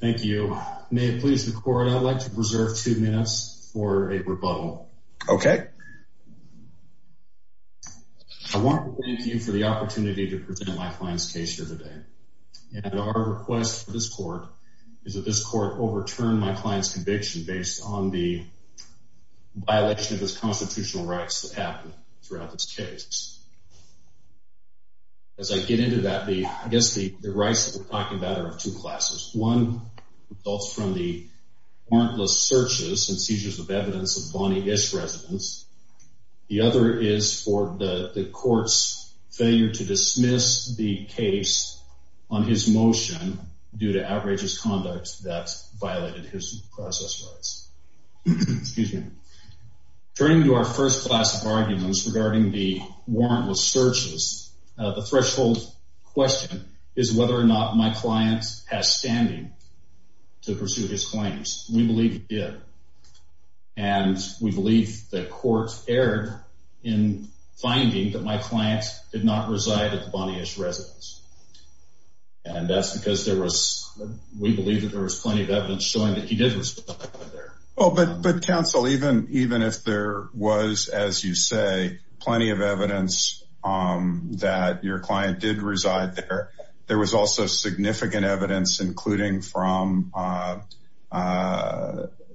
thank you may it please the court I'd like to preserve two minutes for a rebuttal okay I want to thank you for the opportunity to present my client's case here today and our request for this court is that this court overturned my client's conviction based on the violation of his constitutional rights that happened throughout this case as I get into that the I guess the the rights that we're talking about are of two classes one results from the warrantless searches and seizures of evidence of Bonnie ish residents the other is for the courts failure to dismiss the case on his motion due to outrageous conduct that's violated his process rights excuse me turning to our first class of arguments regarding the warrantless searches the threshold question is whether or not my clients has standing to pursue his claims we believe it and we believe the court erred in finding that my clients did not reside at the Bonnie ish residence and that's because there was we believe that there was plenty of evidence showing that he did well but but counsel even even if there was as you say plenty of evidence that your client did reside there there was also significant evidence including from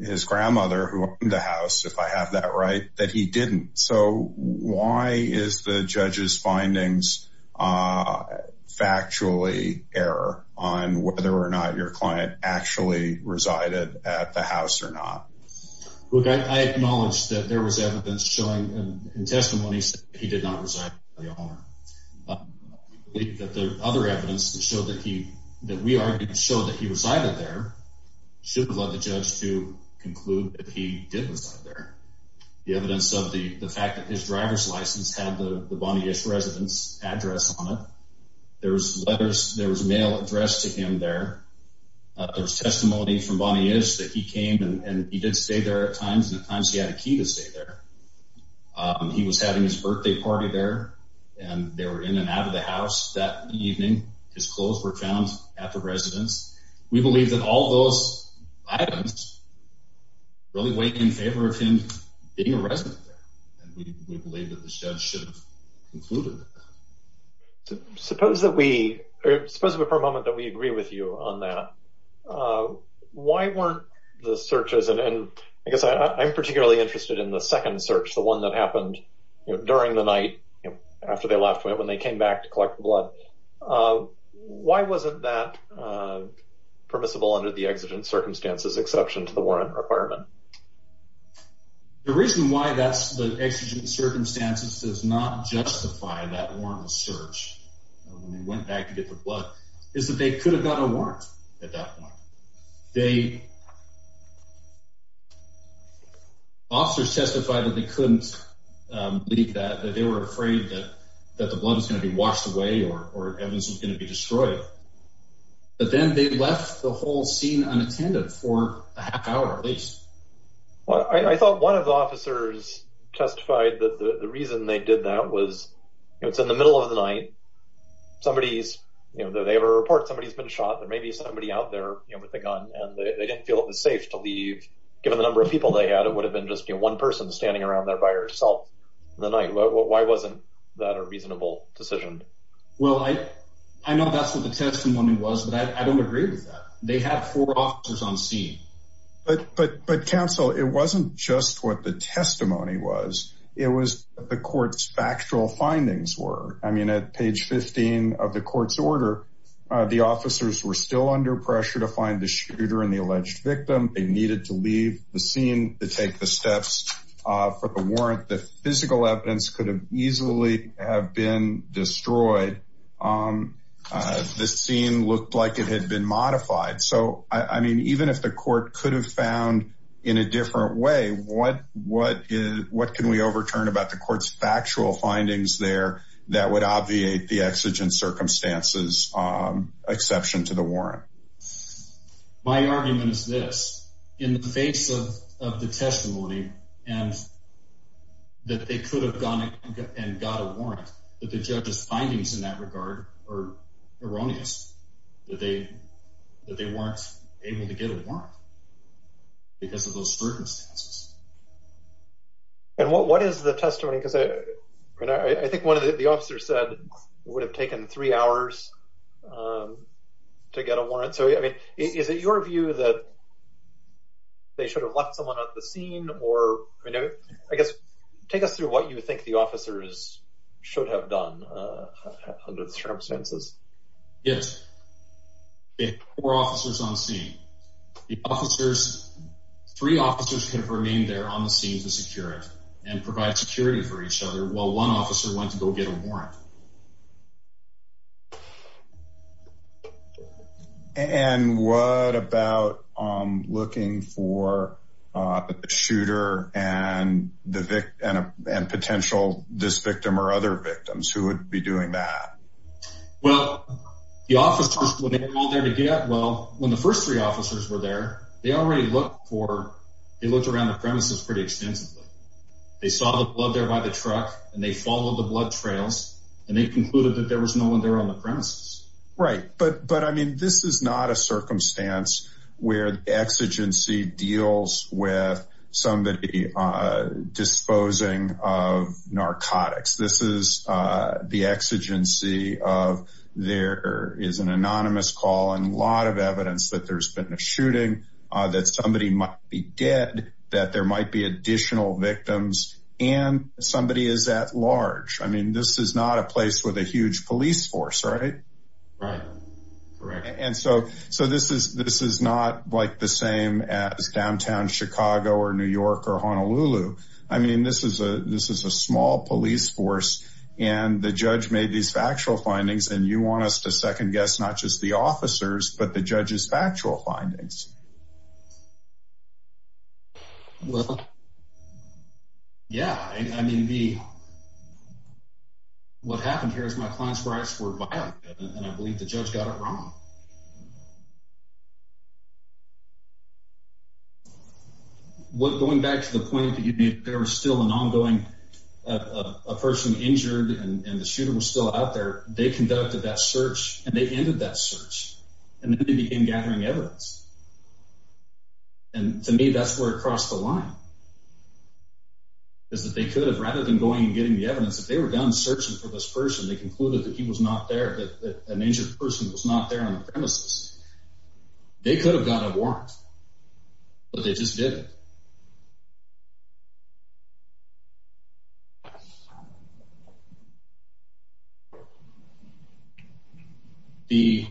his grandmother who in the house if I have that right that he didn't so why is the judge's findings factually error on whether or not your client actually resided at the house or not okay I acknowledge that there was evidence showing testimonies he did not reside the other evidence to show that he that we are to show that he was either there should have led the judge to conclude that he did reside there the evidence of the the fact that his driver's license had the Bonnie ish residence address on it there was letters there was mail addressed to him there there's testimony from Bonnie is that he came and he did stay there at times and at times he had a key to stay there he was having his birthday party there and they were in and out of the house that evening his clothes were found at the residence we believe that all those items really weight in favor of him being a resident and we believe that the judge should have included suppose that we are supposed to be for a moment that we I'm particularly interested in the second search the one that happened during the night after they left when they came back to collect blood why wasn't that permissible under the exigent circumstances exception to the warrant requirement the reason why that's the exigent circumstances does not justify that warrantless search when they went back to get the blood is that they could have gotten a warrant at that point they officers testified that they couldn't leave that they were afraid that that the blood is going to be washed away or or evidence is going to be destroyed but then they left the whole scene unattended for a half hour at least well I thought one of the officers testified that the reason they did that was it's in the middle of the night somebody's you know they have a report somebody's been shot there may be somebody out there with a gun and they didn't feel it was safe to leave given the number of people they had it would have been just you know one person standing around there by herself the night well why wasn't that a reasonable decision well I I know that's what the testimony was that I don't agree with that they have four officers on scene but but but counsel it wasn't just what the testimony was it was the court's factual findings were I mean at page 15 of the court's order the officers were still under pressure to find the shooter and the alleged victim they needed to leave the scene to take the steps for the warrant the physical evidence could have easily have been destroyed this scene looked like it had been modified so I mean even if the court could have found in a different way what what is what can we overturn about the court's factual findings there that would obviate the exigent circumstances exception to the warrant my argument is this in the face of the testimony and that they could have gone and got a warrant that the judge's findings in that regard or erroneous that they that they weren't able to get a warrant because of those circumstances and what what is the testimony because I I think one of the officers said would have taken three hours to get a warrant so I mean is it your view that they should have left someone at the scene or I guess take us through what you think the officers should have done under the circumstances yes the officers three officers have remained there on the scene to secure it and provide security for each other while one officer went to go get a warrant and what about looking for a shooter and the victim and potential this victim or other victims who would be doing that well the officers when they were all there to get well when the first three officers were there they already looked for it looked around the premises pretty extensively they saw the blood there by the truck and they followed the blood trails and they concluded that there was no one there on the premises right but but I mean this is not a circumstance where exigency deals with somebody disposing of narcotics this is the exigency of there is an anonymous call and a lot of evidence that there's been a shooting that somebody might be dead that there might be additional victims and somebody is at large I mean this is not a place with a huge police force right right and so so this is this is not like the same as downtown Chicago or New York or Honolulu I mean this is a this is a small police force and the judge made these factual findings and you want us to second-guess not just the officers but the judge's factual findings yeah I mean the what happened here is my clients rights were violent and I what going back to the point that you need there was still an ongoing a person injured and the shooter was still out there they conducted that search and they ended that search and then they began gathering evidence and to me that's where it crossed the line is that they could have rather than going and getting the evidence that they were done searching for this person they concluded that he was not there that an injured person was not there on the premises they could have got a warrant but they just did the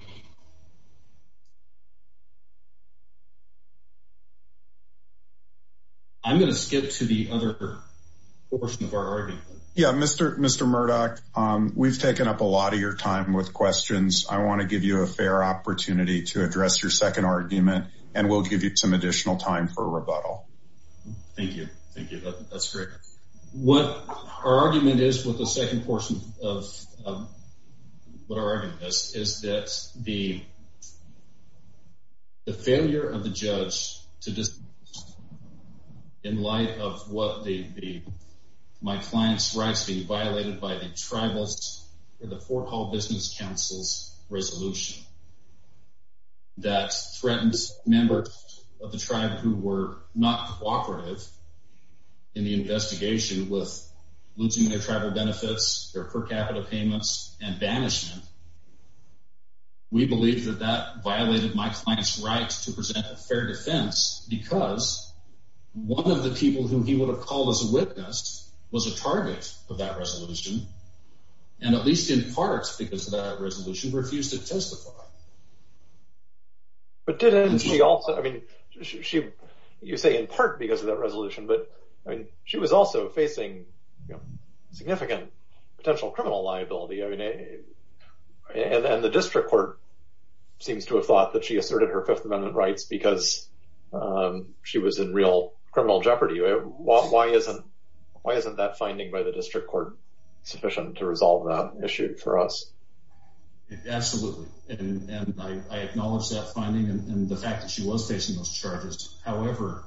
I'm gonna skip to the other portion of our argument yeah mr. mr. Murdoch we've taken up a lot of your time with questions I want to give you a fair opportunity to address your second argument and we'll give you some additional time for rebuttal thank you thank you that's great what our argument is with the second portion of what our argument is that the the failure of the judge to just in light of what they'd be my clients rights being violated by the tribals in the Fort Hall Business Council's resolution that threatens members of the tribe who were not cooperative in the investigation with losing their tribal benefits their per capita payments and banishment we believe that that violated my clients rights to present a fair defense because one of the people who he would have called as a witness was a target of that and at least in parts because of that resolution refused to testify but didn't she also I mean she you say in part because of that resolution but I mean she was also facing significant potential criminal liability I mean a and then the district court seems to have thought that she asserted her Fifth Amendment rights because she was in real criminal jeopardy why isn't why resolve that issue for us however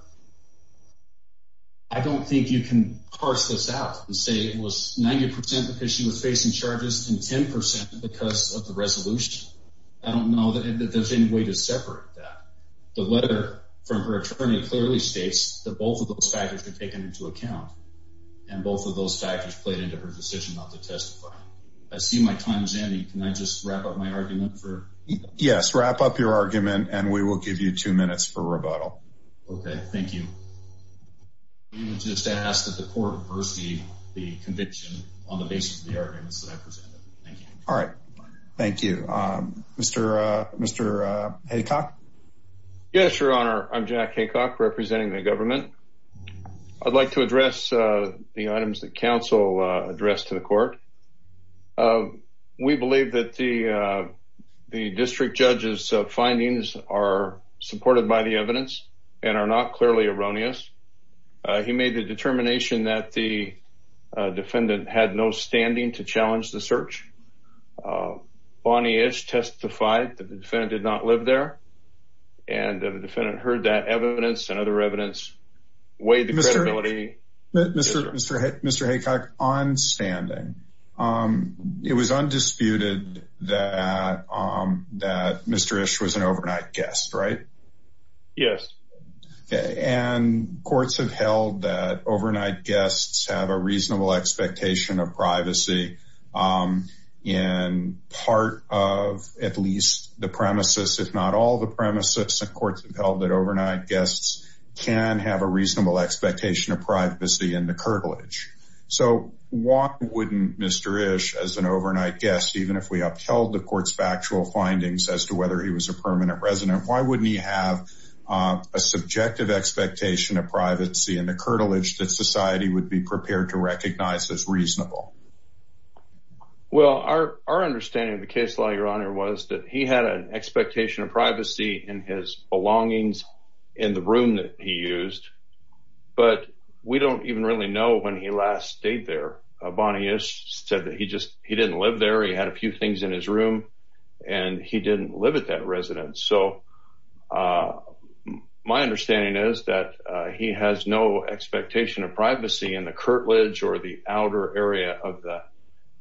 I don't think you can parse this out and say it was 90% because she was facing charges and 10% because of the resolution I don't know that there's any way to separate that the letter from her attorney clearly states that both of those factors are taken into account and I see my time is ending can I just wrap up my argument for yes wrap up your argument and we will give you two minutes for rebuttal okay thank you just ask that the court receive the conviction on the basis of the arguments that I presented all right thank you mr. mr. Haycock yes your honor I'm Jack Haycock representing the government I'd like to address the items that council addressed to the court we believe that the the district judges findings are supported by the evidence and are not clearly erroneous he made the determination that the defendant had no standing to challenge the search Bonnie ish testified that the defendant did not live there and the defendant heard that and other evidence weighed the credibility mr. mr. mr. Haycock on standing it was undisputed that that mr. ish was an overnight guest right yes okay and courts have held that overnight guests have a reasonable expectation of privacy in part of at least the premises if not all the premises of courts have that overnight guests can have a reasonable expectation of privacy in the curtilage so what wouldn't mr. ish as an overnight guest even if we upheld the courts factual findings as to whether he was a permanent resident why wouldn't he have a subjective expectation of privacy in the curtilage that society would be prepared to recognize as reasonable well our understanding of the case law your honor was that he had an expectation of privacy in his belonging in the room that he used but we don't even really know when he last stayed there Bonnie ish said that he just he didn't live there he had a few things in his room and he didn't live at that residence so my understanding is that he has no expectation of privacy in the curtilage or the outer area of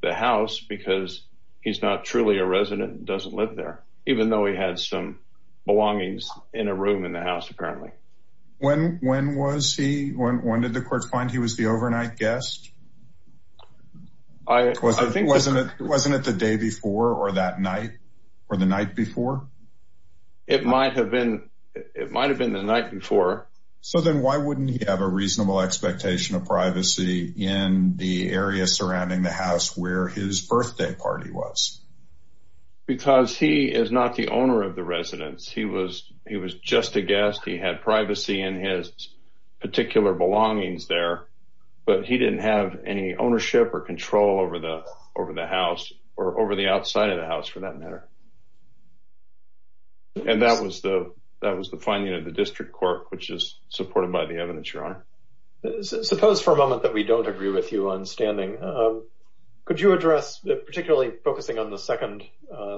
the house because he's not truly a resident doesn't live there even though he had some belongings in a room in the house apparently when when was he when did the courts find he was the overnight guest I think wasn't it wasn't it the day before or that night or the night before it might have been it might have been the night before so then why wouldn't you have a reasonable expectation of privacy in the area surrounding the house where his birthday party was because he is not the owner of the residence he was he was just a guest he had privacy in his particular belongings there but he didn't have any ownership or control over the over the house or over the outside of the house for that matter and that was the that was the finding of the district court which is supported by the evidence your honor suppose for a moment that we don't agree with you on standing could you address particularly focusing on the second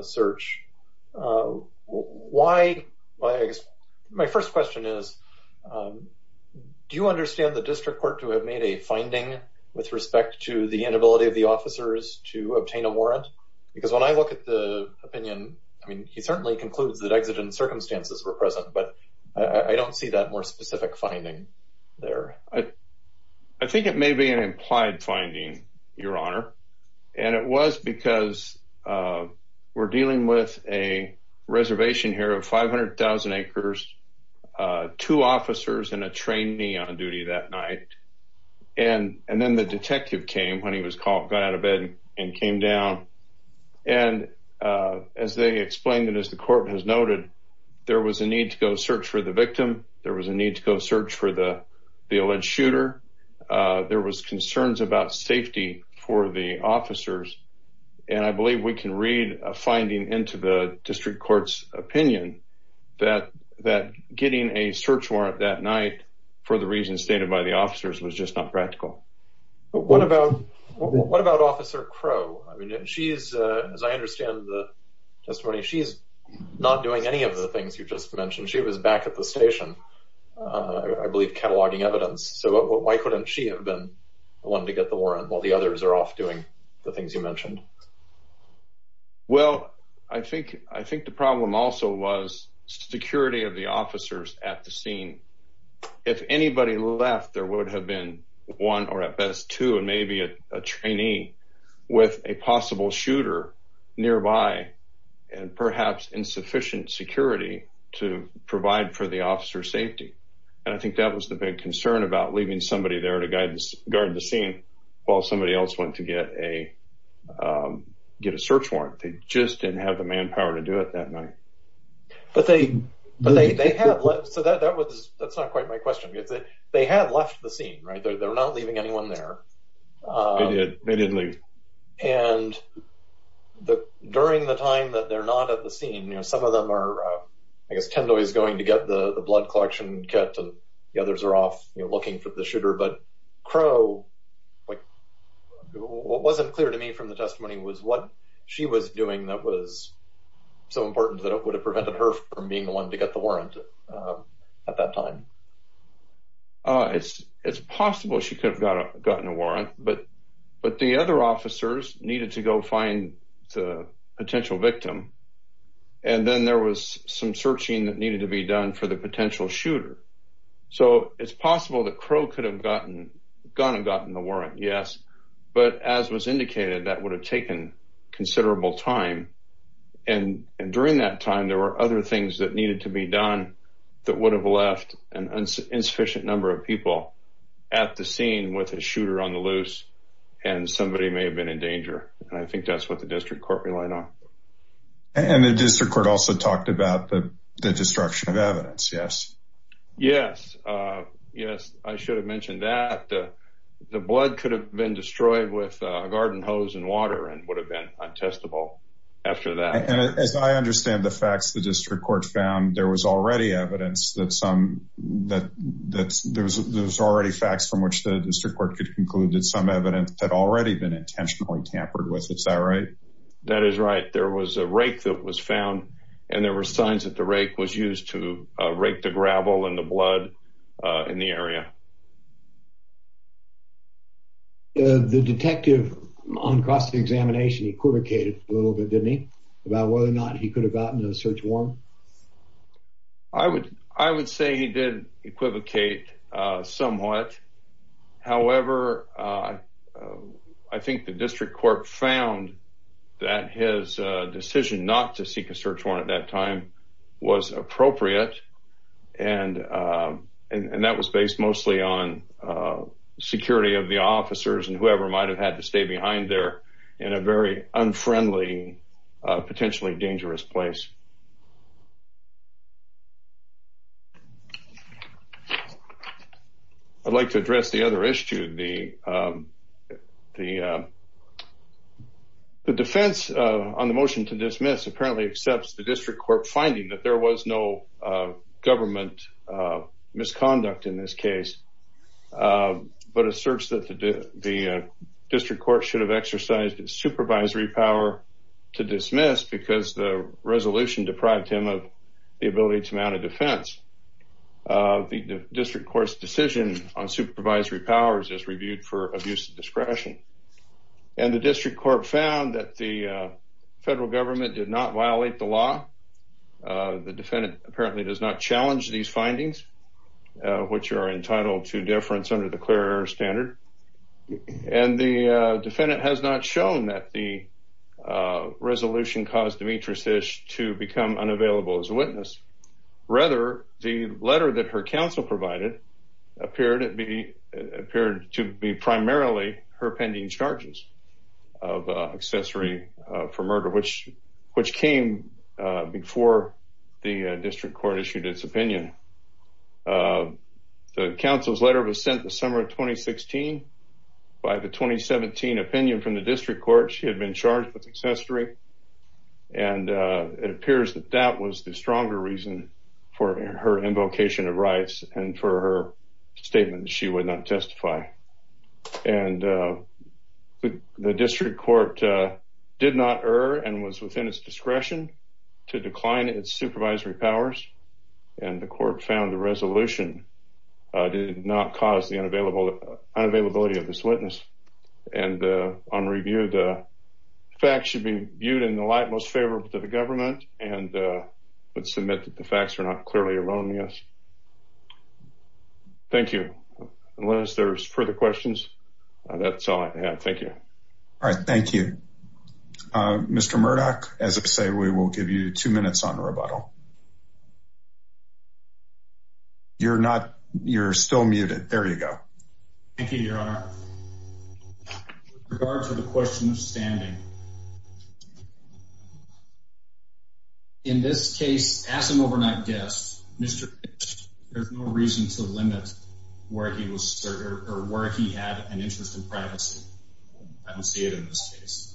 search why my first question is do you understand the district court to have made a finding with respect to the inability of the officers to obtain a warrant because when I look at the opinion I mean he certainly concludes that exigent circumstances were present but I don't see that more specific finding there I I think it may be an implied finding your honor and it was because we're dealing with a reservation here of 500,000 acres two officers and a trainee on duty that night and and then the detective came when he was called got out of bed and came down and as they explained it as the court has noted there was a need to go search for the victim there was a need to go search for the the alleged shooter there was concerns about safety for the officers and I believe we can read a finding into the district courts opinion that that getting a search warrant that night for the reasons stated by the officers was just not practical but what about what about officer crow I mean she's as I of the things you just mentioned she was back at the station I believe cataloging evidence so why couldn't she have been one to get the warrant while the others are off doing the things you mentioned well I think I think the problem also was security of the officers at the scene if anybody left there would have been one or at best two and maybe a trainee with a possible shooter nearby and perhaps insufficient security to provide for the officer safety and I think that was the big concern about leaving somebody there to guidance guard the scene while somebody else went to get a get a search warrant they just didn't have the manpower to do it that night but they but they have left so that that was that's not quite my question if they had left the scene right they're not leaving anyone there they didn't leave and the during the time that they're not at the scene you know some of them are I guess Kendall is going to get the blood collection kept and the others are off looking for the shooter but crow like what wasn't clear to me from the testimony was what she was doing that was so important that it would have prevented her from being the to get the warrant at that time it's it's possible she could have gotten a warrant but but the other officers needed to go find the potential victim and then there was some searching that needed to be done for the potential shooter so it's possible that crow could have gotten gonna gotten the warrant yes but as was indicated that would have taken considerable time and during that time there were other things that needed to be done that would have left an insufficient number of people at the scene with a shooter on the loose and somebody may have been in danger and I think that's what the district court relied on and the district court also talked about the destruction of evidence yes yes yes I should have mentioned that the blood could have been destroyed with a garden hose and water and would have been untestable after that and as I understand the facts the district court found there was already evidence that some that that's there's there's already facts from which the district court could conclude that some evidence had already been intentionally tampered with it's that right that is right there was a rake that was found and there were signs that the rake was used to rake the gravel and the blood in the area the detective on cross-examination equivocated a little bit didn't he about whether or not he could have gotten a search warrant I would I would say he did equivocate somewhat however I think the district court found that his decision not to seek a search warrant at that time was appropriate and and that was based mostly on security of the officers and whoever might have had to dangerous place I'd like to address the other issue the the the defense on the motion to dismiss apparently accepts the district court finding that there was no government misconduct in this case but asserts that the district court should have exercised supervisory power to dismiss because the resolution deprived him of the ability to mount a defense the district court's decision on supervisory powers is reviewed for abuse of discretion and the district court found that the federal government did not violate the law the defendant apparently does not challenge these findings which are entitled to deference under the clear standard and the defendant has not shown that the resolution caused the matrices to become unavailable as a witness rather the letter that her counsel provided appeared to be appeared to be primarily her pending charges of accessory for murder which which came before the district court issued its opinion the council's letter was sent the summer of 2016 by the 2017 opinion from the district court she had been charged with accessory and it appears that that was the stronger reason for her invocation of rights and for her statement she would not testify and the district court did not err and was within its discretion to decline its cause the unavailability of this witness and on review the facts should be viewed in the light most favorable to the government and would submit that the facts are not clearly erroneous thank you unless there's further questions that's all I have thank you all right thank you mr. Murdoch as if say we will give you two minutes on the rebuttal you're not you're still muted there you go thank you your honor regard to the question of standing in this case as an overnight guest mr. there's no reason to limit where he was I don't see it in this case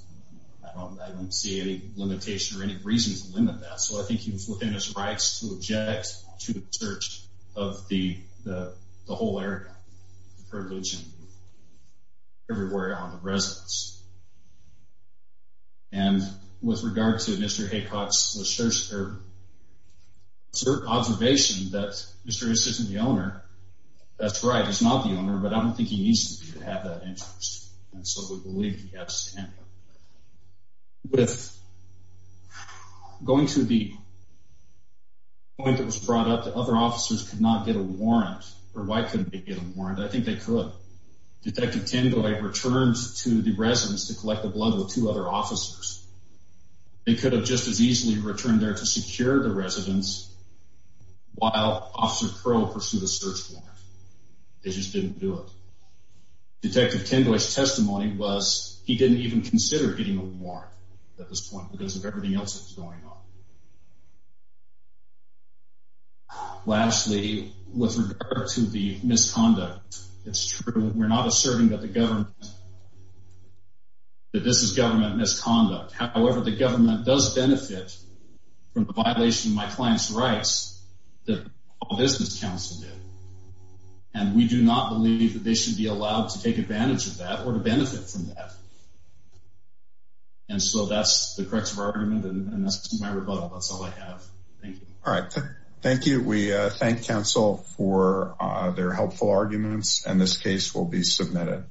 I don't see any limitation or any reason to limit that so I think he was within his rights to object to the search of the the whole area the privilege everywhere on the residence and with regard to mr. Haycock's search her observation that mr. is isn't the owner that's right it's not the owner but I don't think he needs to have that interest and so we believe yes with going to the point that was brought up to other officers could not get a warrant or why couldn't they get a warrant I think they could detective Tango I returned to the residence to collect the blood with two other officers they could have just as easily returned there to secure the residence while officer crow pursued a search warrant they just didn't do it detective Tango's testimony was he didn't even consider getting a warrant at this point because of everything else that's going on lastly with regard to the misconduct it's true we're not asserting that the government that this is government misconduct however the government does benefit from the violation of my clients the business council did and we do not believe that they should be allowed to take advantage of that or to benefit from that and so that's the corrective argument and that's all I have all right thank you we thank counsel for their helpful arguments and this case will be submitted